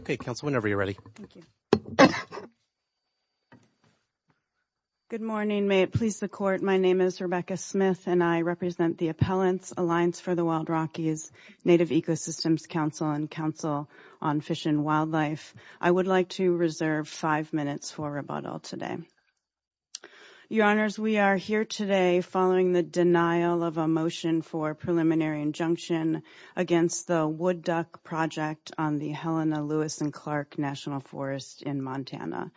Okay, Council, whenever you're ready. Good morning. May it please the Court, my name is Rebecca Smith and I represent the Appellants Alliance for the Wild Rockies Native Ecosystems Council and Council on Fish and Wildlife. I would like to reserve five minutes for rebuttal today. Your Honors, we are here today following the denial of a motion for preliminary injunction against the Wood Duck Project on the Helena Lewis and Clark National Forest in Montana.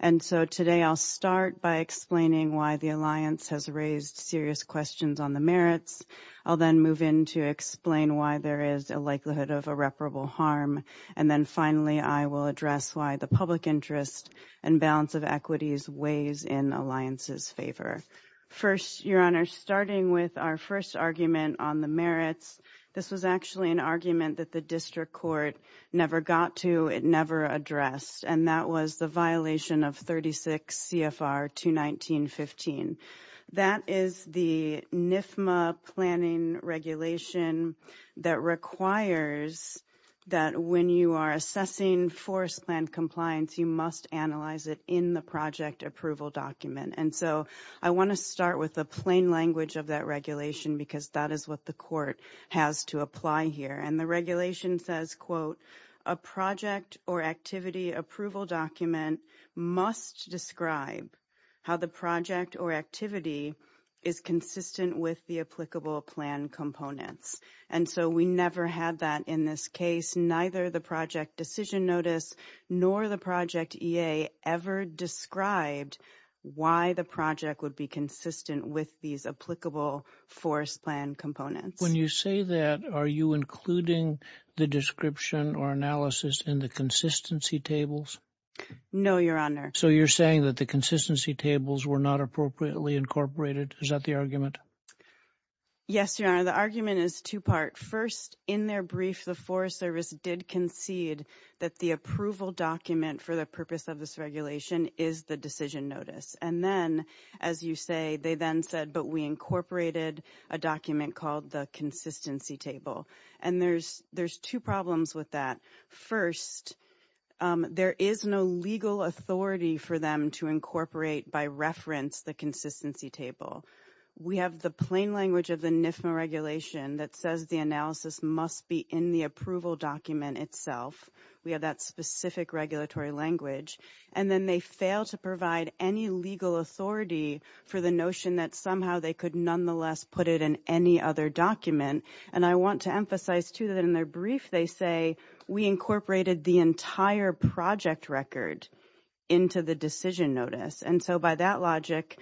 And so today I'll start by explaining why the Alliance has raised serious questions on the merits. I'll then move in to explain why there is a likelihood of irreparable harm. And then finally, I will address why the public interest and balance of equities weighs in the Alliance's favor. First, Your Honor, starting with our first argument on the merits, this was actually an argument that the District Court never got to, it never addressed. And that was the violation of 36 CFR 219.15. That is the NIFMA planning regulation that requires that when you are assessing forest land compliance, you must analyze it in the project approval document. And so I want to start with the plain language of that regulation because that is what the Court has to apply here. And the regulation says, quote, a project or activity approval document must describe how the project or activity is consistent with the applicable plan components. And so we never had that in this case. Neither the project decision notice nor the project EA ever described why the project would be consistent with these applicable forest plan components. When you say that, are you including the description or analysis in the consistency tables? No, Your Honor. So you're saying that the consistency tables were not appropriately incorporated. Is that the argument? Yes, Your Honor. The argument is two part. First, in their brief, the Forest Service did concede that the approval document for the purpose of this regulation is the decision notice. And then, as you say, they then said, but we incorporated a document called the consistency table. And there's two problems with that. First, there is no legal authority for them to incorporate by reference the consistency table. We have the plain language of the NIFMA regulation that says the analysis must be in the approval document itself. We have that specific regulatory language. And then they fail to provide any legal authority for the notion that somehow they could nonetheless put it in any other document. And I want to emphasize, too, that in their brief, they say we incorporated the entire project record into the decision notice. And so by that logic,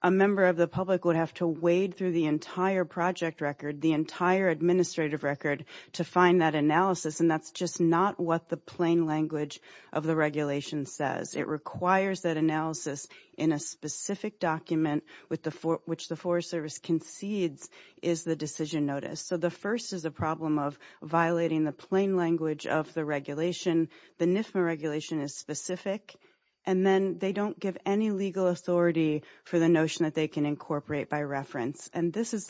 a member of the public would have to wade through the entire project record, the entire administrative record, to find that analysis. And that's just not what the plain language of the regulation says. It requires that analysis in a specific document which the Forest Service concedes is the decision notice. So the first is a problem of violating the plain language of the regulation. The NIFMA regulation is specific. And then they don't give any legal authority for the notion that they can incorporate by reference.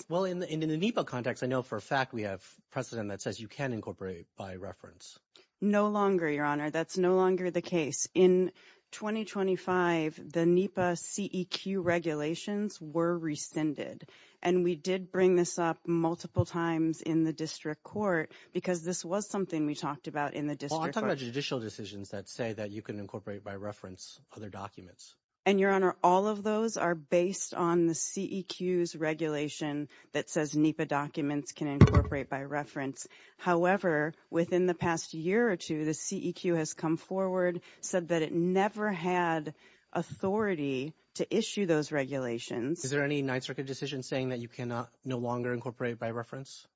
Well, in the NEPA context, I know for a fact we have precedent that says you can incorporate by reference. No longer, Your Honor. That's no longer the case. In 2025, the NEPA CEQ regulations were rescinded. And we did bring this up multiple times in the district court because this was something we talked about in the district court. Well, I'm talking about judicial decisions that say that you can incorporate by reference other documents. And, Your Honor, all of those are based on the CEQ's regulation that says NEPA documents can incorporate by reference. However, within the past year or two, the CEQ has come forward, said that it never had authority to issue those regulations. Is there any Ninth Circuit decision saying that you can no longer incorporate by reference?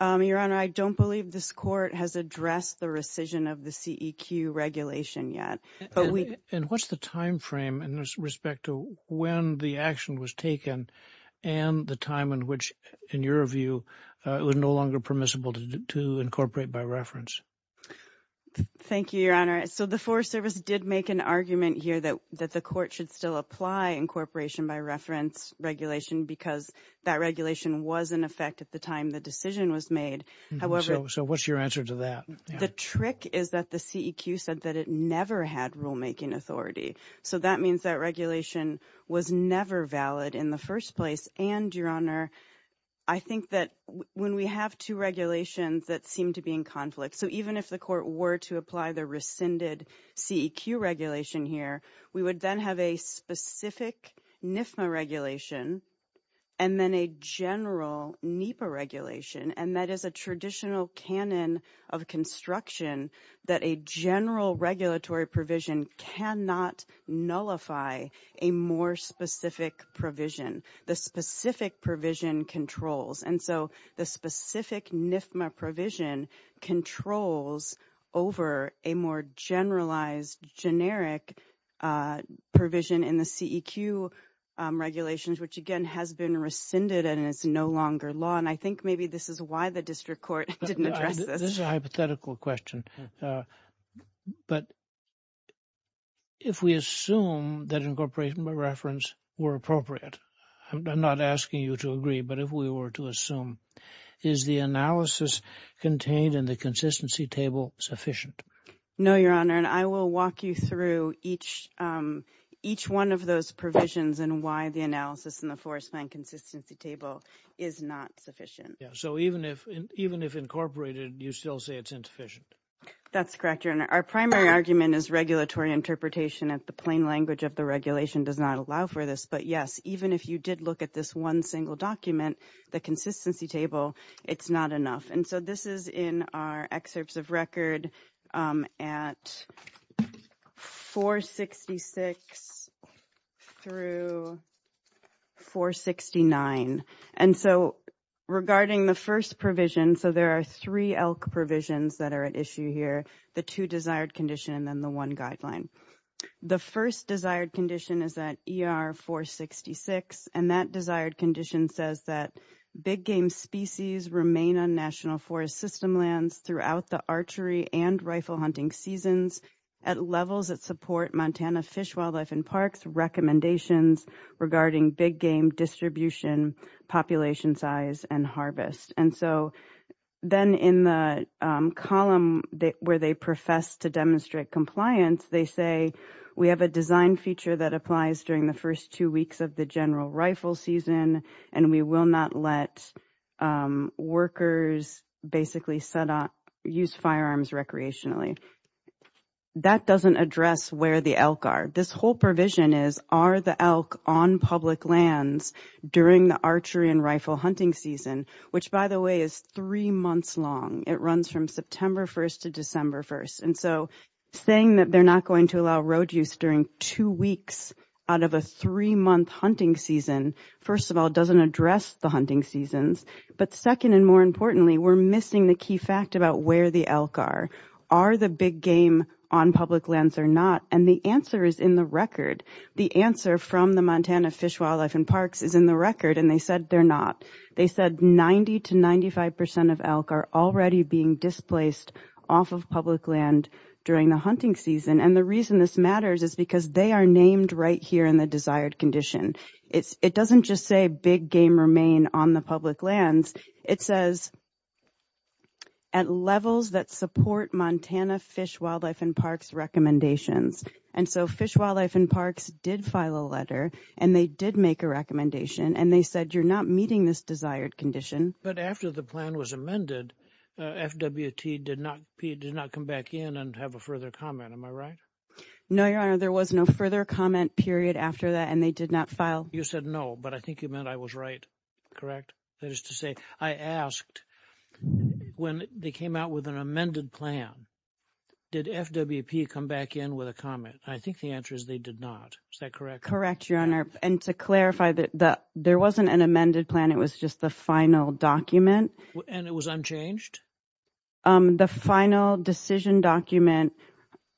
Your Honor, I don't believe this court has addressed the rescission of the CEQ regulation yet. And what's the timeframe in respect to when the action was taken and the time in which, in your view, it was no longer permissible to incorporate by reference? Thank you, Your Honor. So the Forest Service did make an argument here that the court should still apply incorporation by reference regulation because that regulation was in effect at the time the decision was made. So what's your answer to that? The trick is that the CEQ said that it never had rulemaking authority. So that means that regulation was never valid in the first place. And, Your Honor, I think that when we have two regulations that seem to be in conflict, so even if the court were to apply the rescinded CEQ regulation here, we would then have a specific NIFMA regulation and then a general NEPA regulation. And that is a traditional canon of construction that a general regulatory provision cannot nullify a more specific provision. The specific provision controls. And so the specific NIFMA provision controls over a more generalized generic provision in the CEQ regulations, which, again, has been rescinded and is no longer law. And I think maybe this is why the district court didn't address this. This is a hypothetical question. But if we assume that incorporation by reference were appropriate, I'm not asking you to agree, but if we were to assume, is the analysis contained in the consistency table sufficient? No, Your Honor, and I will walk you through each one of those provisions and why the analysis in the forest land consistency table is not sufficient. So even if incorporated, you still say it's insufficient. That's correct, Your Honor. Our primary argument is regulatory interpretation of the plain language of the regulation does not allow for this. But, yes, even if you did look at this one single document, the consistency table, it's not enough. And so this is in our excerpts of record at 466 through 469. And so regarding the first provision, so there are three elk provisions that are at issue here, the two desired condition and the one guideline. The first desired condition is that ER 466, and that desired condition says that big game species remain on national forest system lands throughout the archery and rifle hunting seasons at levels that support Montana fish, wildlife and parks recommendations regarding big game distribution, population size and harvest. And so then in the column where they profess to demonstrate compliance, they say we have a design feature that applies during the first two weeks of the general rifle season and we will not let workers basically set up use firearms recreationally. That doesn't address where the elk are. This whole provision is are the elk on public lands during the archery and rifle hunting season, which, by the way, is three months long. It runs from September 1st to December 1st. And so saying that they're not going to allow road use during two weeks out of a three-month hunting season, first of all, doesn't address the hunting seasons. But second and more importantly, we're missing the key fact about where the elk are. Are the big game on public lands or not? And the answer is in the record. The answer from the Montana Fish, Wildlife and Parks is in the record, and they said they're not. They said 90 to 95% of elk are already being displaced off of public land during the hunting season. And the reason this matters is because they are named right here in the desired condition. It doesn't just say big game remain on the public lands. It says at levels that support Montana Fish, Wildlife and Parks recommendations. And so Fish, Wildlife and Parks did file a letter and they did make a recommendation and they said you're not meeting this desired condition. But after the plan was amended, FWT did not did not come back in and have a further comment. Am I right? No, your honor. There was no further comment period after that, and they did not file. You said no, but I think you meant I was right. Correct. That is to say, I asked when they came out with an amended plan, did FWP come back in with a comment? I think the answer is they did not. Is that correct? Correct, your honor. And to clarify that there wasn't an amended plan. It was just the final document and it was unchanged. The final decision document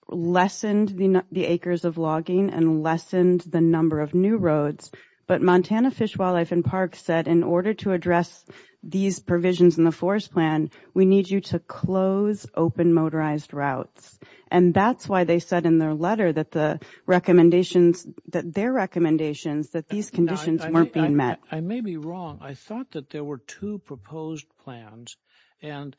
lessened the acres of logging and lessened the number of new roads. But Montana Fish, Wildlife and Parks said in order to address these provisions in the forest plan, we need you to close open motorized routes. And that's why they said in their letter that the recommendations that their recommendations that these conditions weren't being met. I may be wrong. I thought that there were two proposed plans. And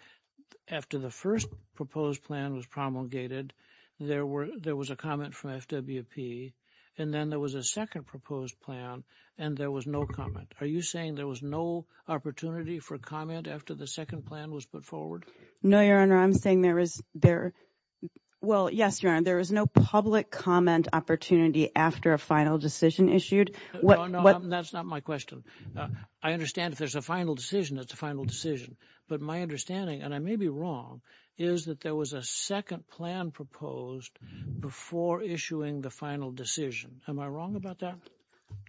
after the first proposed plan was promulgated, there were there was a comment from FWP and then there was a second proposed plan and there was no comment. Are you saying there was no opportunity for comment after the second plan was put forward? No, your honor. I'm saying there is there. Well, yes, your honor. There is no public comment opportunity after a final decision issued. That's not my question. I understand if there's a final decision, it's a final decision. But my understanding and I may be wrong, is that there was a second plan proposed before issuing the final decision. Am I wrong about that?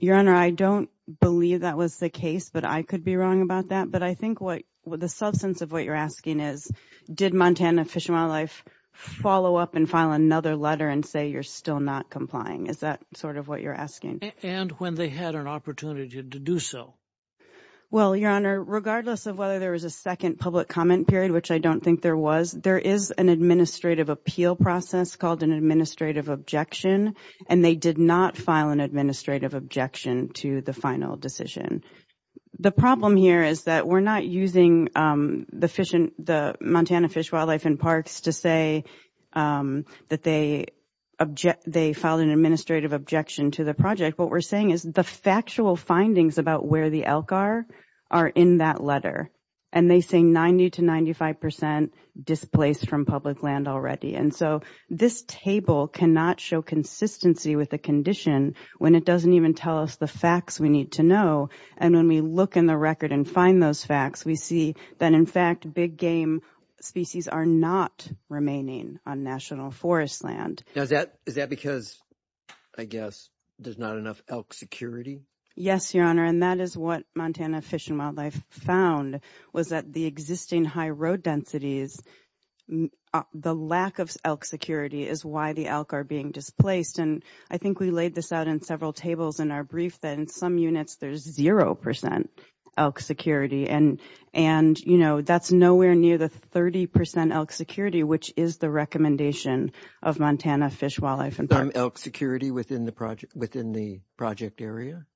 Your honor, I don't believe that was the case, but I could be wrong about that. But I think what the substance of what you're asking is, did Montana Fish and Wildlife follow up and file another letter and say you're still not complying? Is that sort of what you're asking? And when they had an opportunity to do so? Well, your honor, regardless of whether there was a second public comment period, which I don't think there was, there is an administrative appeal process called an administrative objection, and they did not file an administrative objection to the final decision. The problem here is that we're not using the Montana Fish, Wildlife and Parks to say that they object. They filed an administrative objection to the project. What we're saying is the factual findings about where the elk are, are in that letter. And they say 90 to 95 percent displaced from public land already. And so this table cannot show consistency with the condition when it doesn't even tell us the facts we need to know. And when we look in the record and find those facts, we see that, in fact, big game species are not remaining on national forest land. Is that because, I guess, there's not enough elk security? Yes, your honor. And that is what Montana Fish and Wildlife found, was that the existing high road densities, the lack of elk security is why the elk are being displaced. And I think we laid this out in several tables in our brief, that in some units there's zero percent elk security. And, you know, that's nowhere near the 30 percent elk security, which is the recommendation of Montana Fish, Wildlife and Parks. Elk security within the project area?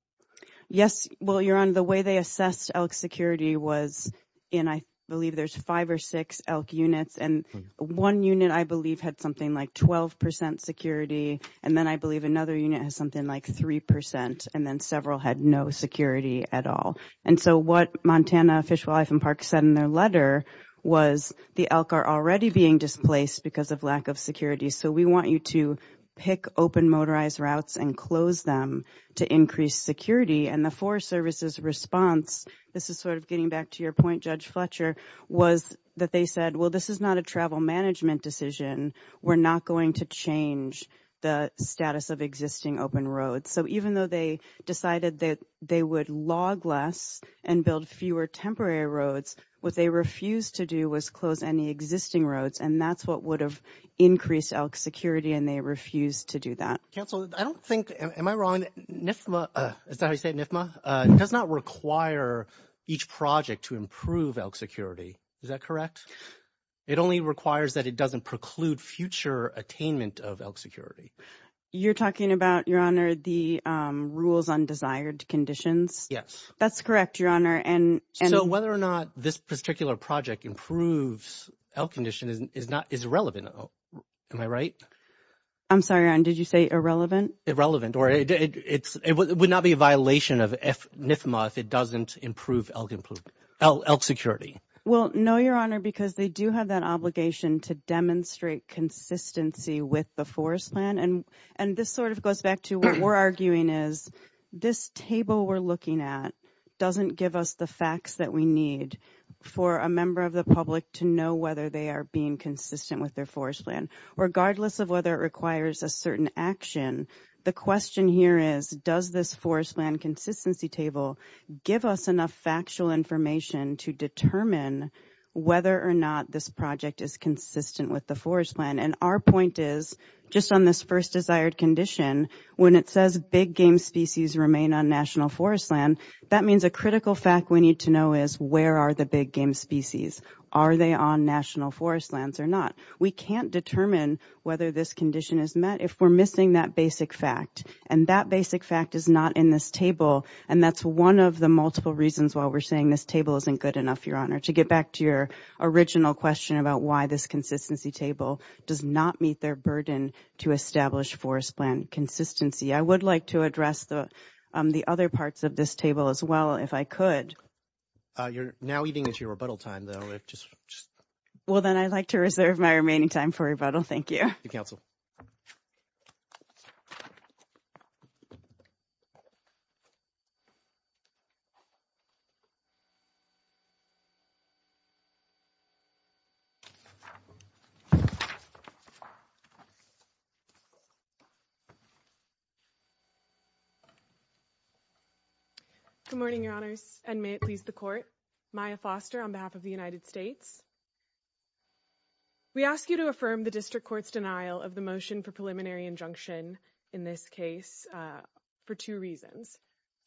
Yes. Well, your honor, the way they assessed elk security was in, I believe there's five or six elk units. And one unit, I believe, had something like 12 percent security. And then I believe another unit has something like three percent. And then several had no security at all. And so what Montana Fish, Wildlife and Parks said in their letter was the elk are already being displaced because of lack of security. So we want you to pick open motorized routes and close them to increase security. And the Forest Service's response, this is sort of getting back to your point, Judge Fletcher, was that they said, well, this is not a travel management decision. We're not going to change the status of existing open roads. So even though they decided that they would log less and build fewer temporary roads, what they refused to do was close any existing roads. And that's what would have increased elk security. And they refused to do that. Counsel, I don't think. Am I wrong? NYFMA does not require each project to improve elk security. Is that correct? It only requires that it doesn't preclude future attainment of elk security. You're talking about, your honor, the rules on desired conditions. Yes, that's correct, your honor. So whether or not this particular project improves elk condition is irrelevant. Am I right? I'm sorry, your honor. Did you say irrelevant? Irrelevant. Or it would not be a violation of NYFMA if it doesn't improve elk security. Well, no, your honor, because they do have that obligation to demonstrate consistency with the forest plan. And this sort of goes back to what we're arguing is this table we're looking at doesn't give us the facts that we need for a member of the public to know whether they are being consistent with their forest plan, regardless of whether it requires a certain action. The question here is, does this forest land consistency table give us enough factual information to determine whether or not this project is consistent with the forest plan? And our point is, just on this first desired condition, when it says big game species remain on national forest land, that means a critical fact we need to know is where are the big game species? Are they on national forest lands or not? We can't determine whether this condition is met if we're missing that basic fact. And that basic fact is not in this table. And that's one of the multiple reasons why we're saying this table isn't good enough, your honor, to get back to your original question about why this consistency table does not meet their burden to establish forest plan consistency. I would like to address the other parts of this table as well, if I could. You're now eating into your rebuttal time, though. Well, then I'd like to reserve my remaining time for rebuttal. Thank you. Council. Good morning, your honors, and may it please the court. My foster on behalf of the United States. We ask you to affirm the district court's denial of the motion for preliminary injunction in this case for two reasons.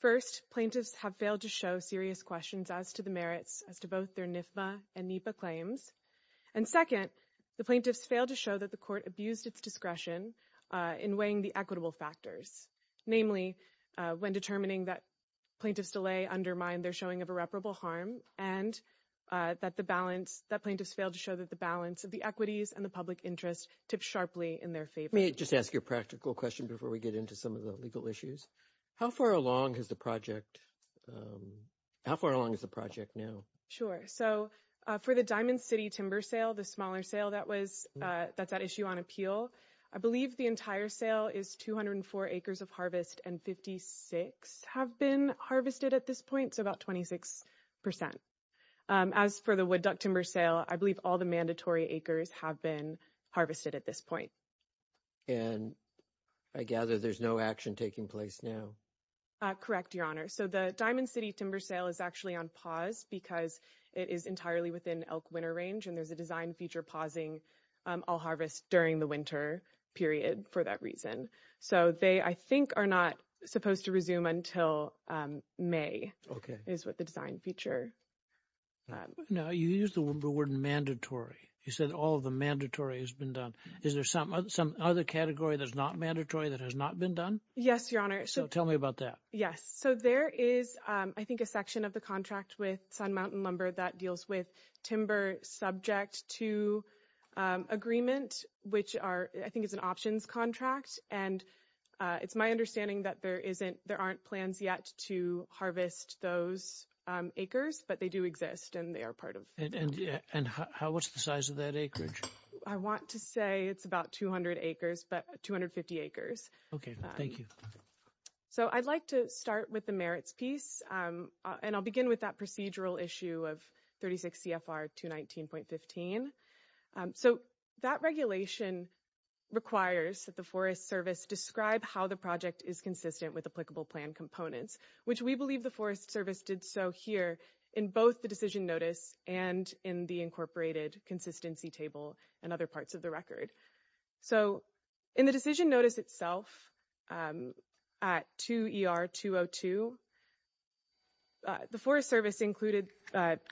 First, plaintiffs have failed to show serious questions as to the merits as to both their NIFA and NEPA claims. And second, the plaintiffs failed to show that the court abused its discretion in weighing the equitable factors, namely when determining that plaintiffs delay undermine their showing of irreparable harm and that the balance that plaintiffs failed to show that the balance of the equities and the public interest tip sharply in their favor. Just ask your practical question before we get into some of the legal issues. How far along is the project? How far along is the project now? Sure. So for the Diamond City timber sale, the smaller sale, that was that's an issue on appeal. I believe the entire sale is 204 acres of harvest and 56 have been harvested at this point. So about 26 percent. As for the wood duck timber sale, I believe all the mandatory acres have been harvested at this point. And I gather there's no action taking place now. Correct. Your honor. So the Diamond City timber sale is actually on pause because it is entirely within elk winter range and there's a design feature pausing all harvest during the winter period for that reason. So they, I think, are not supposed to resume until May is what the design feature. Now, you use the word mandatory. You said all of the mandatory has been done. Is there some some other category that's not mandatory that has not been done? Yes, your honor. So tell me about that. Yes. So there is, I think, a section of the contract with Sun Mountain Lumber that deals with timber subject to agreement, which are I think is an options contract. And it's my understanding that there isn't there aren't plans yet to harvest those acres, but they do exist and they are part of it. And how what's the size of that acreage? I want to say it's about 200 acres, but 250 acres. OK, thank you. So I'd like to start with the merits piece, and I'll begin with that procedural issue of 36 CFR 219.15. So that regulation requires that the Forest Service describe how the project is consistent with applicable plan components, which we believe the Forest Service did so here in both the decision notice and in the incorporated consistency table and other parts of the record. So, in the decision notice itself at 2 ER 202. The Forest Service included,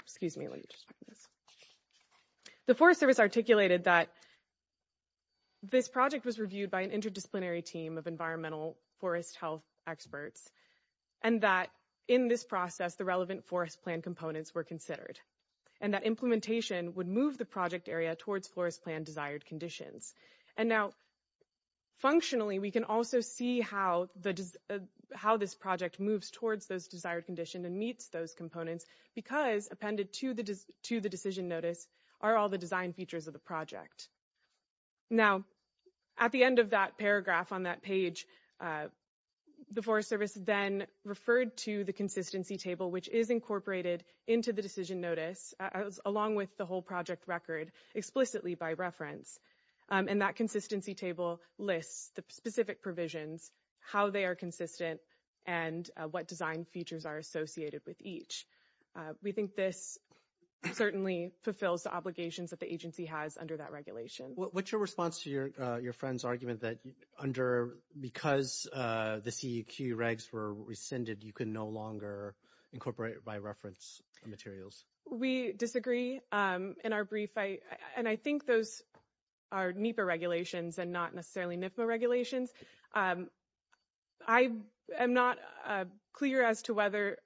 excuse me. The Forest Service articulated that. This project was reviewed by an interdisciplinary team of environmental forest health experts. And that in this process, the relevant forest plan components were considered and that implementation would move the project area towards forest plan desired conditions. And now, functionally, we can also see how the how this project moves towards those desired condition and meets those components because appended to the decision notice are all the design features of the project. Now, at the end of that paragraph on that page. The Forest Service then referred to the consistency table, which is incorporated into the decision notice, along with the whole project record explicitly by reference. And that consistency table lists the specific provisions, how they are consistent and what design features are associated with each. We think this certainly fulfills the obligations that the agency has under that regulation. What's your response to your friend's argument that under because the CEQ regs were rescinded, you can no longer incorporate by reference materials. We disagree in our brief. And I think those are NEPA regulations and not necessarily NEPA regulations. I am not clear as to whether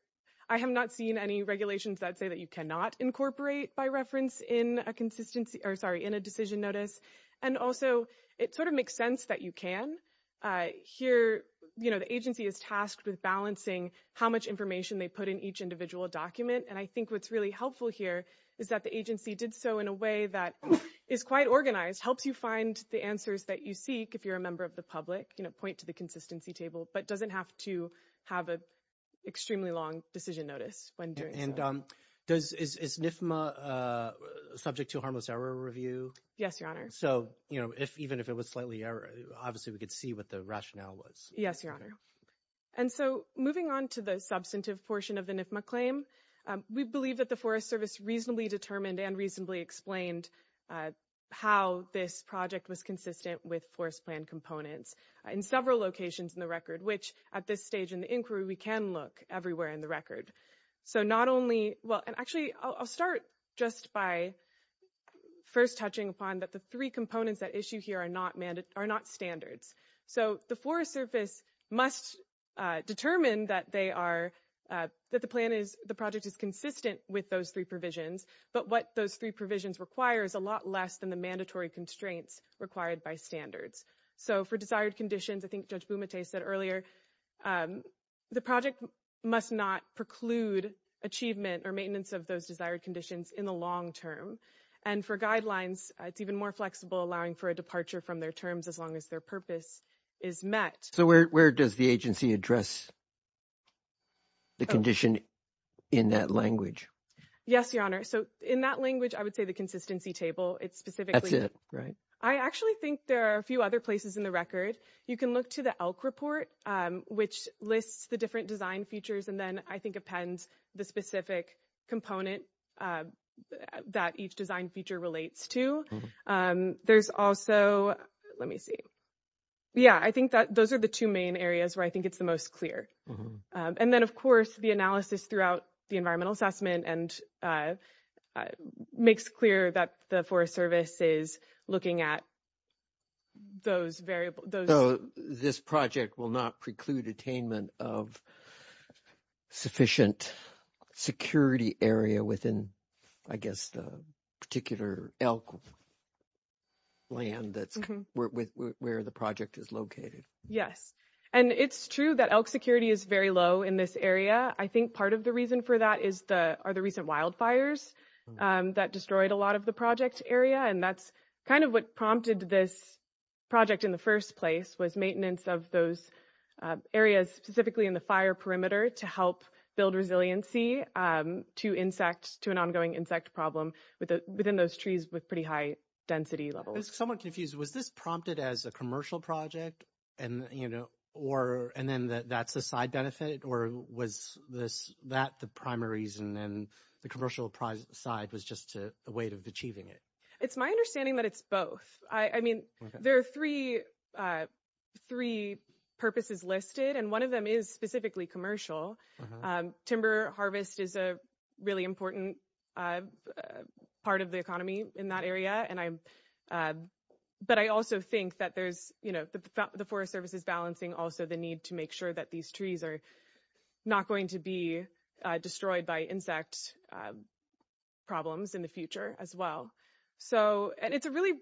I have not seen any regulations that say that you cannot incorporate by reference in a consistency or sorry, in a decision notice. And also, it sort of makes sense that you can hear. You know, the agency is tasked with balancing how much information they put in each individual document. And I think what's really helpful here is that the agency did so in a way that is quite organized, helps you find the answers that you seek. If you're a member of the public, you know, point to the consistency table, but doesn't have to have an extremely long decision notice. And is NIFMA subject to harmless error review? Yes, Your Honor. So, you know, if even if it was slightly error, obviously, we could see what the rationale was. Yes, Your Honor. And so moving on to the substantive portion of the NIFMA claim, we believe that the Forest Service reasonably determined and reasonably explained how this project was consistent with forest plan components in several locations in the record, which at this stage in the inquiry, we can look everywhere in the record. So not only well, and actually, I'll start just by first touching upon that the three components that issue here are not standards. So the Forest Service must determine that they are that the plan is the project is consistent with those three provisions. But what those three provisions require is a lot less than the mandatory constraints required by standards. So for desired conditions, I think Judge Bumate said earlier, the project must not preclude achievement or maintenance of those desired conditions in the long term. And for guidelines, it's even more flexible, allowing for a departure from their terms as long as their purpose is met. So where does the agency address the condition in that language? Yes, Your Honor. So in that language, I would say the consistency table. It's specific. Right. I actually think there are a few other places in the record. You can look to the elk report, which lists the different design features. And then I think appends the specific component that each design feature relates to. There's also let me see. Yeah, I think that those are the two main areas where I think it's the most clear. And then, of course, the analysis throughout the environmental assessment and makes clear that the Forest Service is looking at those variables. This project will not preclude attainment of sufficient security area within, I guess, the particular elk land that's where the project is located. Yes. And it's true that elk security is very low in this area. I think part of the reason for that is the recent wildfires that destroyed a lot of the project area. And that's kind of what prompted this project in the first place was maintenance of those areas, specifically in the fire perimeter to help build resiliency to insects, to an ongoing insect problem within those trees with pretty high density levels. I'm somewhat confused. Was this prompted as a commercial project? And, you know, or and then that's a side benefit or was this that the primary reason and the commercial side was just a way of achieving it? It's my understanding that it's both. I mean, there are three three purposes listed and one of them is specifically commercial. Timber harvest is a really important part of the economy in that area. And I'm but I also think that there's, you know, the Forest Service is balancing also the need to make sure that these trees are not going to be destroyed by insect problems in the future as well. So and it's a really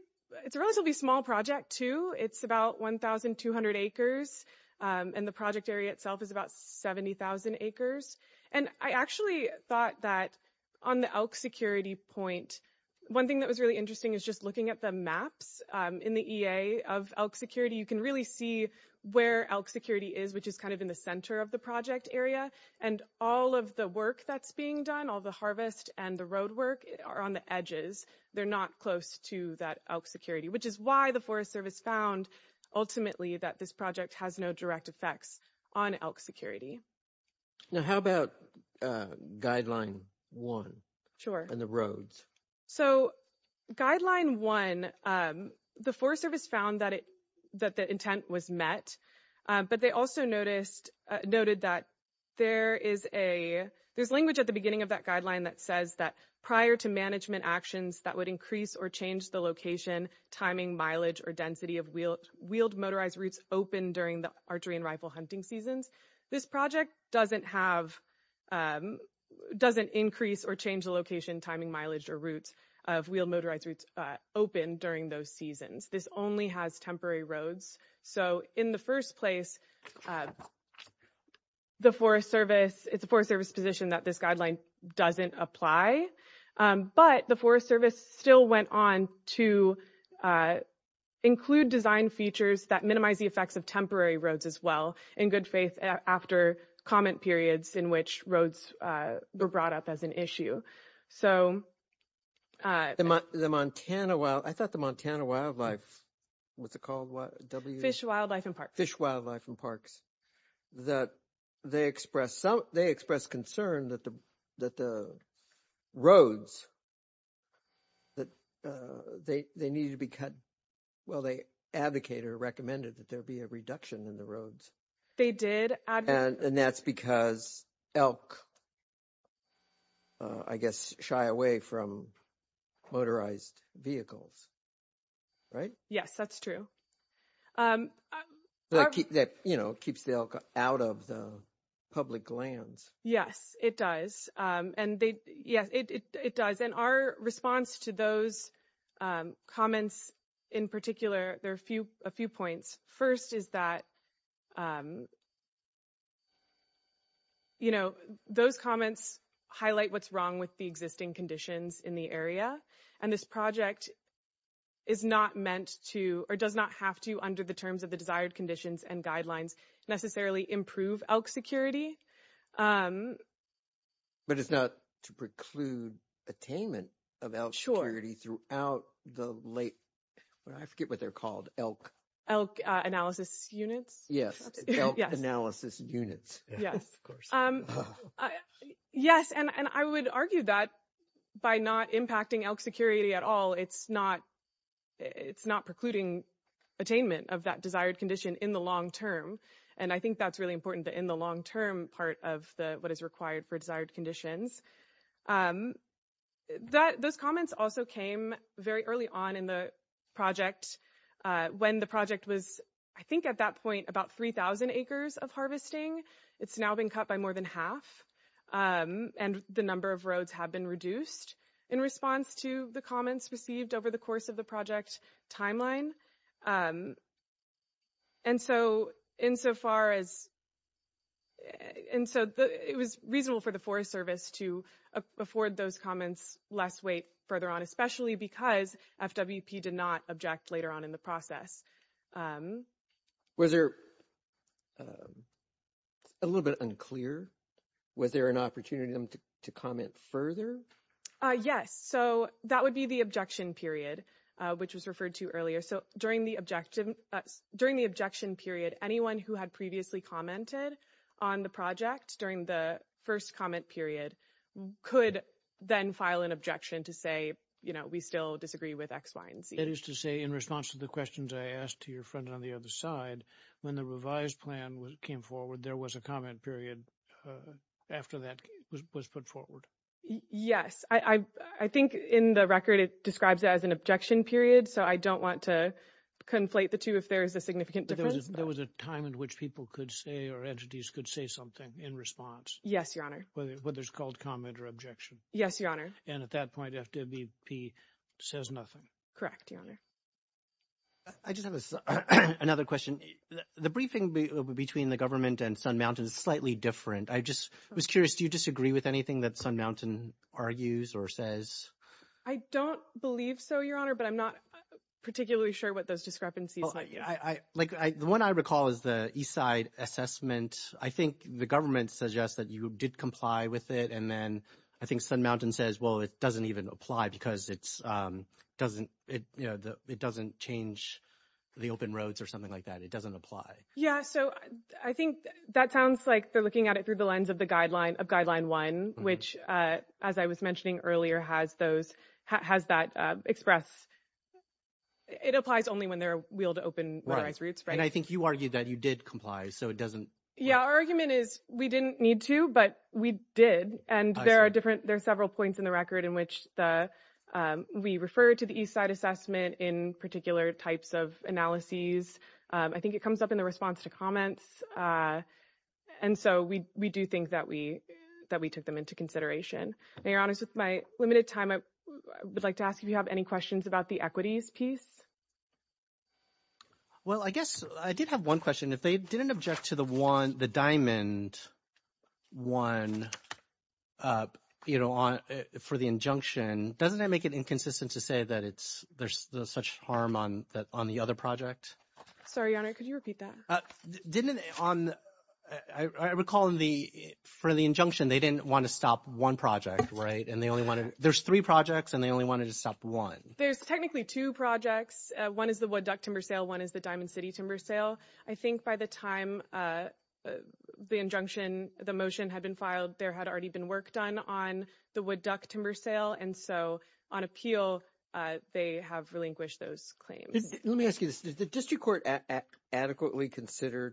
it's a relatively small project, too. It's about one thousand two hundred acres and the project area itself is about seventy thousand acres. And I actually thought that on the elk security point, one thing that was really interesting is just looking at the maps in the E.A. of elk security. You can really see where elk security is, which is kind of in the center of the project area. And all of the work that's being done, all the harvest and the road work are on the edges. They're not close to that elk security, which is why the Forest Service found ultimately that this project has no direct effects on elk security. Now, how about guideline one? Sure. And the roads. So guideline one, the Forest Service found that it that the intent was met, but they also noticed noted that there is a there's language at the beginning of that guideline that says that prior to management actions that would increase or change the location, timing, mileage or density of wheeled motorized routes open during the archery and rifle hunting seasons. This project doesn't have doesn't increase or change the location, timing, mileage or routes of wheeled motorized routes open during those seasons. This only has temporary roads. So in the first place, the Forest Service, it's a Forest Service position that this guideline doesn't apply. But the Forest Service still went on to include design features that minimize the effects of temporary roads as well in good faith after comment periods in which roads were brought up as an issue. So the Montana, well, I thought the Montana wildlife, what's it called? Fish, wildlife and parks, fish, wildlife and parks that they express. So they express concern that the that the roads. That they they need to be cut. Well, they advocate or recommended that there be a reduction in the roads. They did. And that's because elk. I guess shy away from motorized vehicles. Right. Yes, that's true. That keeps the elk out of the public lands. Yes, it does. And our response to those comments in particular, there are a few a few points. First, is that. You know, those comments highlight what's wrong with the existing conditions in the area and this project. Is not meant to or does not have to under the terms of the desired conditions and guidelines necessarily improve elk security. But it's not to preclude attainment of elk security throughout the late. I forget what they're called elk elk analysis units. Yes. Analysis units. Yes, of course. Yes. And I would argue that by not impacting elk security at all, it's not. It's not precluding attainment of that desired condition in the long term. And I think that's really important in the long term part of the what is required for desired conditions. That those comments also came very early on in the project when the project was, I think, at that point, about 3000 acres of harvesting. It's now been cut by more than half and the number of roads have been reduced in response to the comments received over the course of the project timeline. And so insofar as. And so it was reasonable for the Forest Service to afford those comments less weight further on, especially because FWP did not object later on in the process. Was there a little bit unclear? Was there an opportunity to comment further? Yes. So that would be the objection period, which was referred to earlier. So during the objective during the objection period, anyone who had previously commented on the project during the first comment period could then file an objection to say, you know, we still disagree with X, Y and Z. That is to say, in response to the questions I asked to your friend on the other side, when the revised plan came forward, there was a comment period after that was put forward. Yes, I think in the record it describes it as an objection period. So I don't want to conflate the two if there is a significant difference. There was a time in which people could say or entities could say something in response. Yes, Your Honor. Whether it's called comment or objection. Yes, Your Honor. And at that point, FWP says nothing. Correct, Your Honor. I just have another question. The briefing between the government and Sun Mountain is slightly different. I just was curious. Do you disagree with anything that Sun Mountain argues or says? I don't believe so, Your Honor, but I'm not particularly sure what those discrepancies are. The one I recall is the East Side assessment. I think the government suggests that you did comply with it. And then I think Sun Mountain says, well, it doesn't even apply because it doesn't change the open roads or something like that. It doesn't apply. Yes. So I think that sounds like they're looking at it through the lens of the guideline of Guideline 1, which, as I was mentioning earlier, has that express. It applies only when there are open roads. And I think you argued that you did comply, so it doesn't. Yeah, our argument is we didn't need to, but we did. And there are several points in the record in which we refer to the East Side assessment in particular types of analyses. I think it comes up in the response to comments. And so we do think that we took them into consideration. Now, Your Honors, with my limited time, I would like to ask if you have any questions about the equities piece. Well, I guess I did have one question. If they didn't object to the Diamond 1, you know, for the injunction, doesn't that make it inconsistent to say that there's such harm on the other project? Sorry, Your Honor, could you repeat that? Didn't it on, I recall in the, for the injunction, they didn't want to stop one project, right? And they only wanted, there's three projects and they only wanted to stop one. There's technically two projects. One is the Wood Duck Timber Sale. One is the Diamond City Timber Sale. I think by the time the injunction, the motion had been filed, there had already been work done on the Wood Duck Timber Sale. And so on appeal, they have relinquished those claims. Let me ask you this. Did the district court adequately consider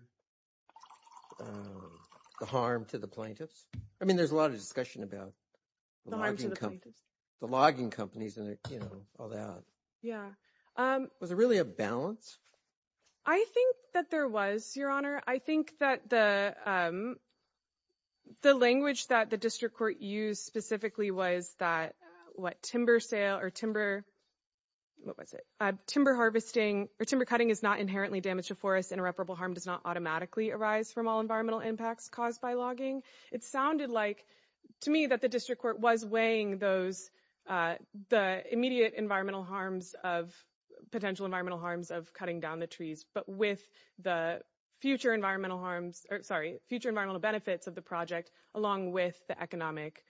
the harm to the plaintiffs? I mean, there's a lot of discussion about the logging companies and, you know, all that. Yeah. Was there really a balance? I think that there was, Your Honor. I think that the, um, the language that the district court used specifically was that what timber sale or timber, what was it? Timber harvesting or timber cutting is not inherently damage to forests. Interoperable harm does not automatically arise from all environmental impacts caused by logging. It sounded like to me that the district court was weighing those, uh, the immediate environmental harms of potential environmental harms of cutting down the trees. But with the future environmental harms, sorry, future environmental benefits of the project, along with the economic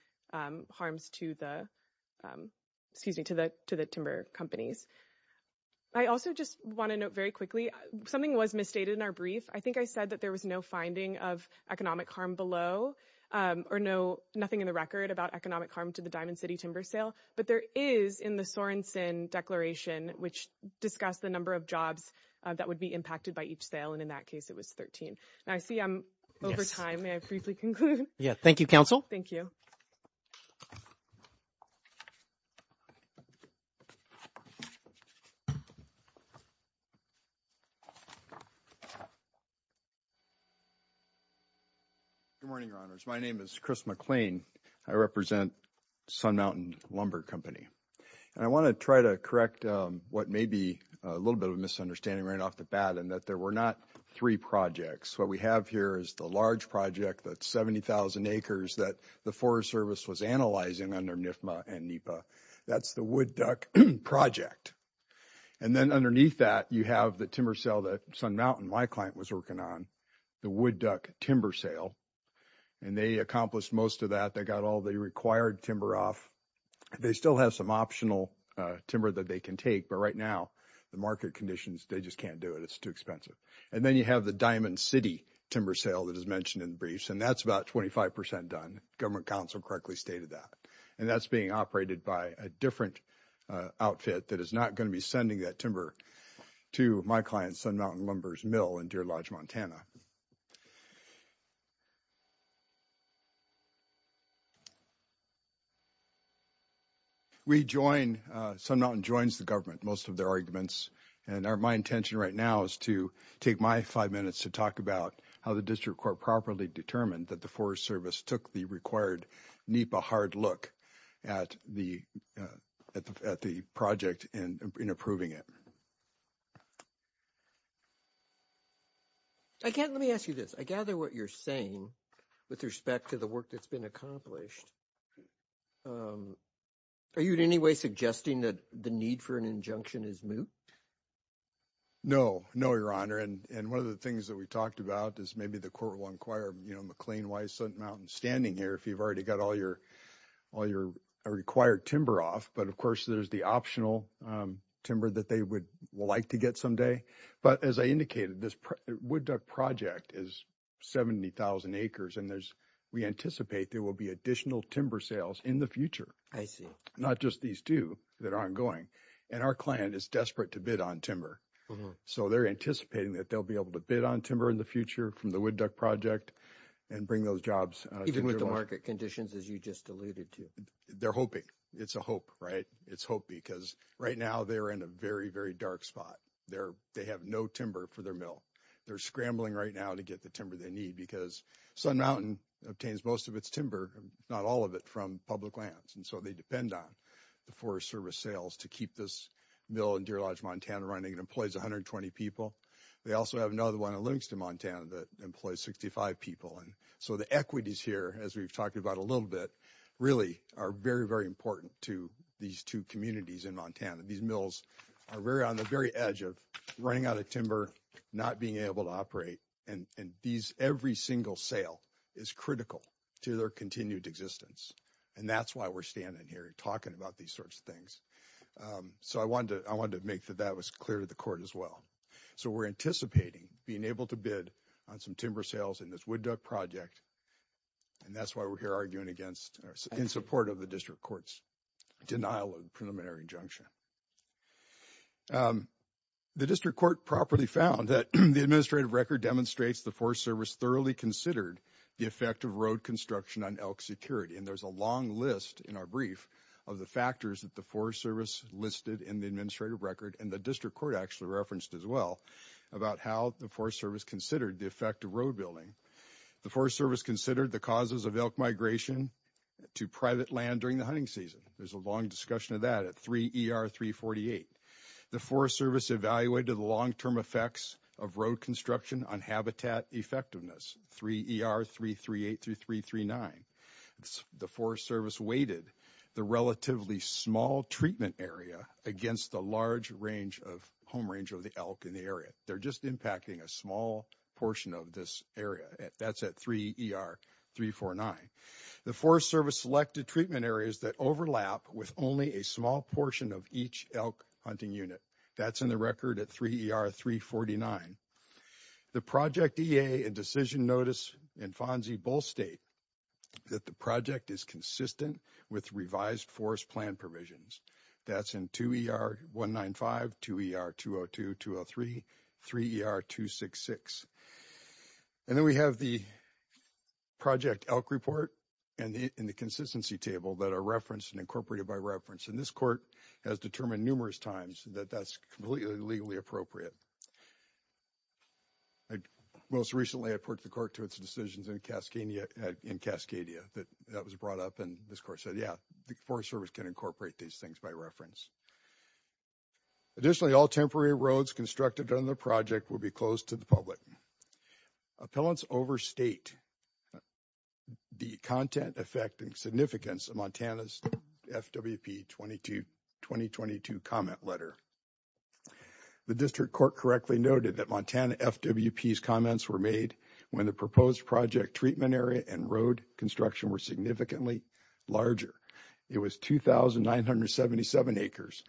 harms to the, excuse me, to the, to the timber companies. I also just want to note very quickly, something was misstated in our brief. I think I said that there was no finding of economic harm below, um, or no, nothing in the record about economic harm to the Diamond City Timber Sale. But there is in the Sorenson Declaration, which discussed the number of jobs that would be impacted by each sale. And in that case, it was 13. I see I'm over time. May I briefly conclude? Yeah. Thank you, counsel. Thank you. Good morning, your honors. My name is Chris McLean. I represent Sun Mountain Lumber Company. And I want to try to correct what may be a little bit of a misunderstanding right off the bat and that there were not 3 projects. What we have here is the large project that 70,000 acres that the Forest Service was analyzing under NIFMA and NEPA. That's the Wood Duck Project. And then underneath that, you have the timber sale that Sun Mountain, my client, was working on, the Wood Duck Timber Sale. And they accomplished most of that. They got all the required timber off. They still have some optional timber that they can take. But right now, the market conditions, they just can't do it. It's too expensive. And then you have the Diamond City Timber Sale that is mentioned in the briefs, and that's about 25 percent done. Government counsel correctly stated that. And that's being operated by a different outfit that is not going to be sending that timber to my client, Sun Mountain Lumber's mill in Deer Lodge, Montana. We join, Sun Mountain joins the government, most of their arguments. And my intention right now is to take my five minutes to talk about how the district court properly determined that the Forest Service took the required NEPA hard look at the project and in approving it. Again, let me ask you this. I gather what you're saying with respect to the work that's been accomplished. Are you in any way suggesting that the need for an injunction is moot? No, no, Your Honor. And one of the things that we talked about is maybe the court will inquire, you know, McLean, why is Sun Mountain standing here if you've already got all your all your required timber off? But, of course, there's the optional timber that they would like to get someday. But as I indicated, this project is 70,000 acres and there's we anticipate there will be additional timber sales in the future. I see. Not just these two that are ongoing. And our client is desperate to bid on timber. So they're anticipating that they'll be able to bid on timber in the future from the Wood Duck Project and bring those jobs. Even with the market conditions, as you just alluded to, they're hoping it's a hope, right? It's hope because right now they're in a very, very dark spot there. They have no timber for their mill. They're scrambling right now to get the timber they need because Sun Mountain obtains most of its timber, not all of it from public lands. And so they depend on the Forest Service sales to keep this mill in Deer Lodge, Montana, running and employs 120 people. They also have another one in Livingston, Montana, that employs 65 people. And so the equities here, as we've talked about a little bit, really are very, very important to these two communities in Montana. These mills are very on the very edge of running out of timber, not being able to operate. And these every single sale is critical to their continued existence. And that's why we're standing here talking about these sorts of things. So I wanted to I wanted to make that that was clear to the court as well. So we're anticipating being able to bid on some timber sales in this Wood Duck Project. And that's why we're here arguing against in support of the district court's denial of preliminary injunction. The district court properly found that the administrative record demonstrates the Forest Service thoroughly considered the effect of road construction on elk security. And there's a long list in our brief of the factors that the Forest Service listed in the administrative record. And the district court actually referenced as well about how the Forest Service considered the effect of road building. The Forest Service considered the causes of elk migration to private land during the hunting season. There's a long discussion of that at 3ER348. The Forest Service evaluated the long term effects of road construction on habitat effectiveness, 3ER338-339. The Forest Service weighted the relatively small treatment area against the large range of home range of the elk in the area. They're just impacting a small portion of this area. That's at 3ER349. The Forest Service selected treatment areas that overlap with only a small portion of each elk hunting unit. That's in the record at 3ER349. The Project EA and Decision Notice and FONSI both state that the project is consistent with revised forest plan provisions. That's in 2ER195, 2ER202-203, 3ER266. And then we have the Project Elk Report and the Consistency Table that are referenced and incorporated by reference. And this court has determined numerous times that that's completely legally appropriate. Most recently, I put the court to its decisions in Cascadia that that was brought up. And this court said, yeah, the Forest Service can incorporate these things by reference. Additionally, all temporary roads constructed on the project will be closed to the public. Appellants overstate the content affecting significance of Montana's FWP 2022 comment letter. The District Court correctly noted that Montana FWP's comments were made when the proposed project treatment area and road construction were significantly larger. It was 2,977 acres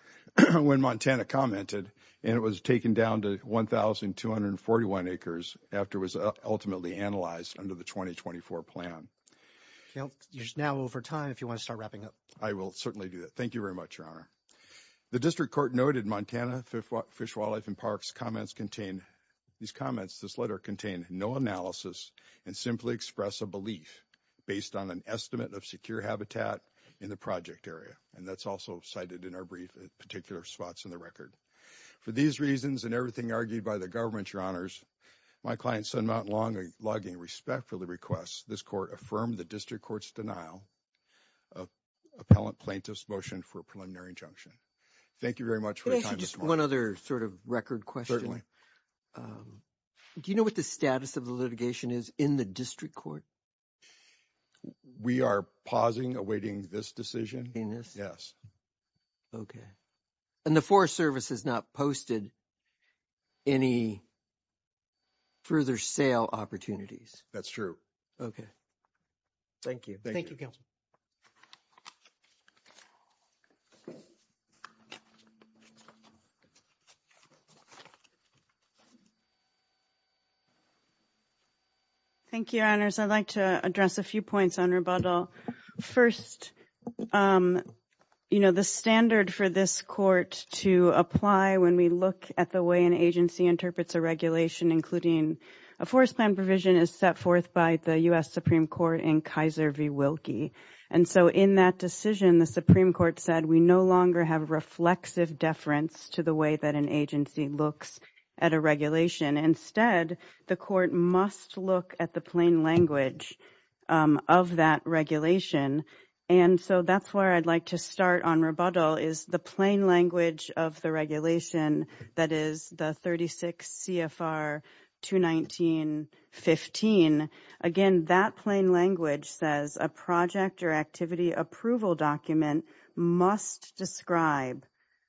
when Montana commented, and it was taken down to 1,241 acres after it was ultimately analyzed under the 2024 plan. You're now over time if you want to start wrapping up. I will certainly do that. Thank you very much, Your Honor. The District Court noted Montana FWP's comments contain, these comments, this letter, contain no analysis and simply express a belief based on an estimate of secure habitat in the project area. And that's also cited in our brief at particular spots in the record. For these reasons and everything argued by the government, Your Honors, my client, Son Mountain Long, I log in respect for the request. This court affirmed the District Court's denial of appellant plaintiff's motion for a preliminary injunction. Thank you very much for your time this morning. Can I ask you just one other sort of record question? Do you know what the status of the litigation is in the District Court? We are pausing, awaiting this decision. In this? Yes. Okay. And the Forest Service has not posted any further sale opportunities. That's true. Okay. Thank you. Thank you, Your Honors. I'd like to address a few points on rebuttal. First, you know, the standard for this court to apply when we look at the way an agency interprets a regulation, including a forest plan provision, is set forth by the U.S. Supreme Court in Kaiser v. Wilkie. And so in that decision, the Supreme Court said we no longer have reflexive deference to the way that an agency looks at a regulation. Instead, the court must look at the plain language of that regulation. And so that's where I'd like to start on rebuttal is the plain language of the regulation that is the 36 CFR 219.15. Again, that plain language says a project or activity approval document must describe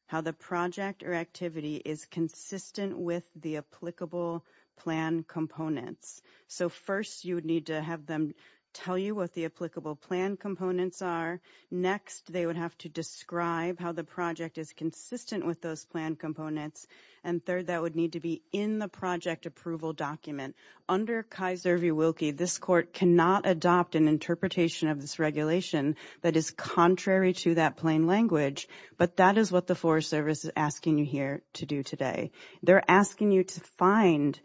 how the project or activity is consistent with the applicable plan components. So first, you would need to have them tell you what the applicable plan components are. Next, they would have to describe how the project is consistent with those plan components. And third, that would need to be in the project approval document. Under Kaiser v. Wilkie, this court cannot adopt an interpretation of this regulation that is contrary to that plain language. But that is what the Forest Service is asking you here to do today. They're asking you to find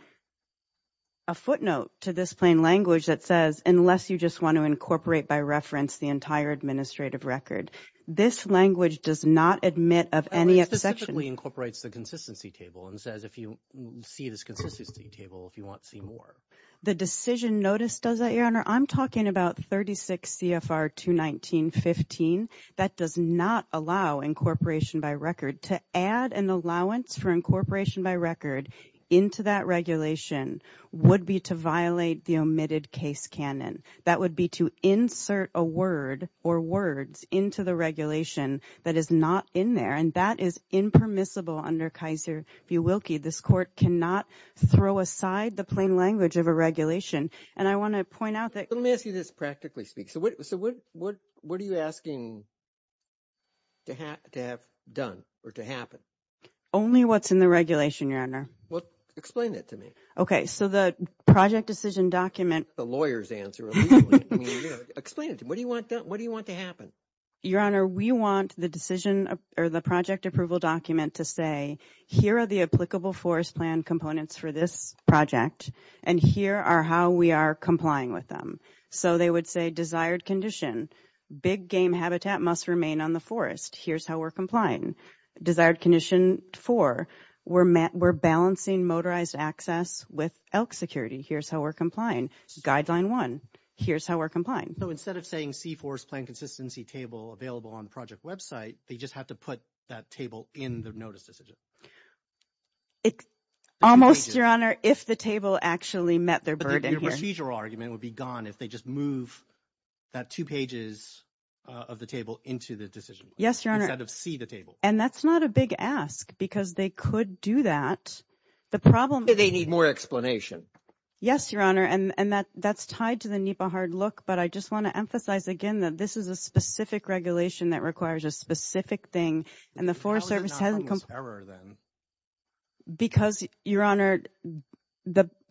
a footnote to this plain language that says unless you just want to incorporate by reference the entire administrative record. This language does not admit of any exception. It simply incorporates the consistency table and says if you see this consistency table, if you want to see more. The decision notice does that, Your Honor. I'm talking about 36 CFR 219.15. That does not allow incorporation by record. To add an allowance for incorporation by record into that regulation would be to violate the omitted case canon. That would be to insert a word or words into the regulation that is not in there. And that is impermissible under Kaiser v. Wilkie. This court cannot throw aside the plain language of a regulation. And I want to point out that. Let me ask you this practically speaking. So what are you asking to have done or to happen? Only what's in the regulation, Your Honor. Well, explain that to me. Okay. So the project decision document. The lawyer's answer. Explain it to me. What do you want done? What do you want to happen? Your Honor, we want the decision or the project approval document to say, here are the applicable forest plan components for this project. And here are how we are complying with them. So they would say desired condition. Big game habitat must remain on the forest. Here's how we're complying. Desired condition four. We're balancing motorized access with elk security. Here's how we're complying. Guideline one. Here's how we're complying. So instead of saying C4's plan consistency table available on the project website, they just have to put that table in the notice decision. Almost, Your Honor, if the table actually met their burden here. But the procedural argument would be gone if they just move that two pages of the table into the decision. Yes, Your Honor. Instead of see the table. And that's not a big ask because they could do that. The problem. They need more explanation. Yes, Your Honor. And that's tied to the NEPA hard look. But I just want to emphasize again that this is a specific regulation that requires a specific thing. And the Forest Service hasn't come. How is it not almost error then? Because, Your Honor,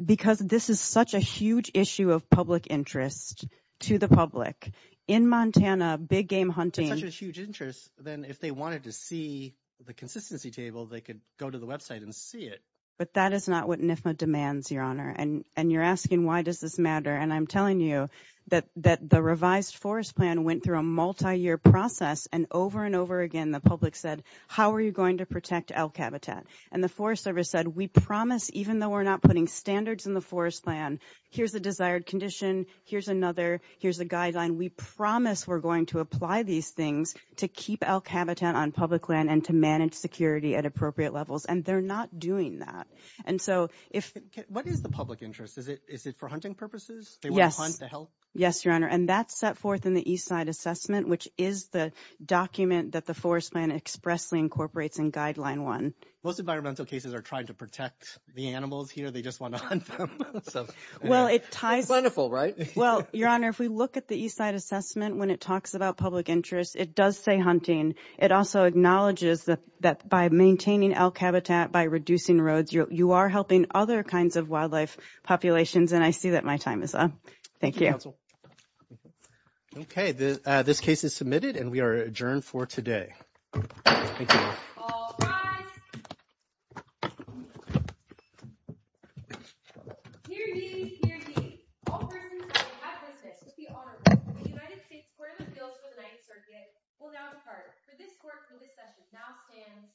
because this is such a huge issue of public interest to the public. In Montana, big game hunting. If it's such a huge interest, then if they wanted to see the consistency table, they could go to the website and see it. But that is not what NIFMA demands, Your Honor. And you're asking why does this matter. And I'm telling you that the revised forest plan went through a multiyear process. And over and over again, the public said, how are you going to protect elk habitat? And the Forest Service said, we promise, even though we're not putting standards in the forest plan, here's a desired condition, here's another, here's a guideline. We promise we're going to apply these things to keep elk habitat on public land and to manage security at appropriate levels. And they're not doing that. What is the public interest? Is it for hunting purposes? They want to hunt to help? Yes, Your Honor. And that's set forth in the Eastside Assessment, which is the document that the forest plan expressly incorporates in Guideline 1. Most environmental cases are trying to protect the animals here. They just want to hunt them. It's wonderful, right? Well, Your Honor, if we look at the Eastside Assessment, when it talks about public interest, it does say hunting. It also acknowledges that by maintaining elk habitat, by reducing roads, you are helping other kinds of wildlife populations. And I see that my time is up. Thank you. Thank you, counsel. Okay. This case is submitted, and we are adjourned for today. Thank you. All rise. Hear ye, hear ye. All persons present have business to be honored. The United States Court of Appeals for the Ninth Circuit will now depart. For this court, the discussion now stands adjourned.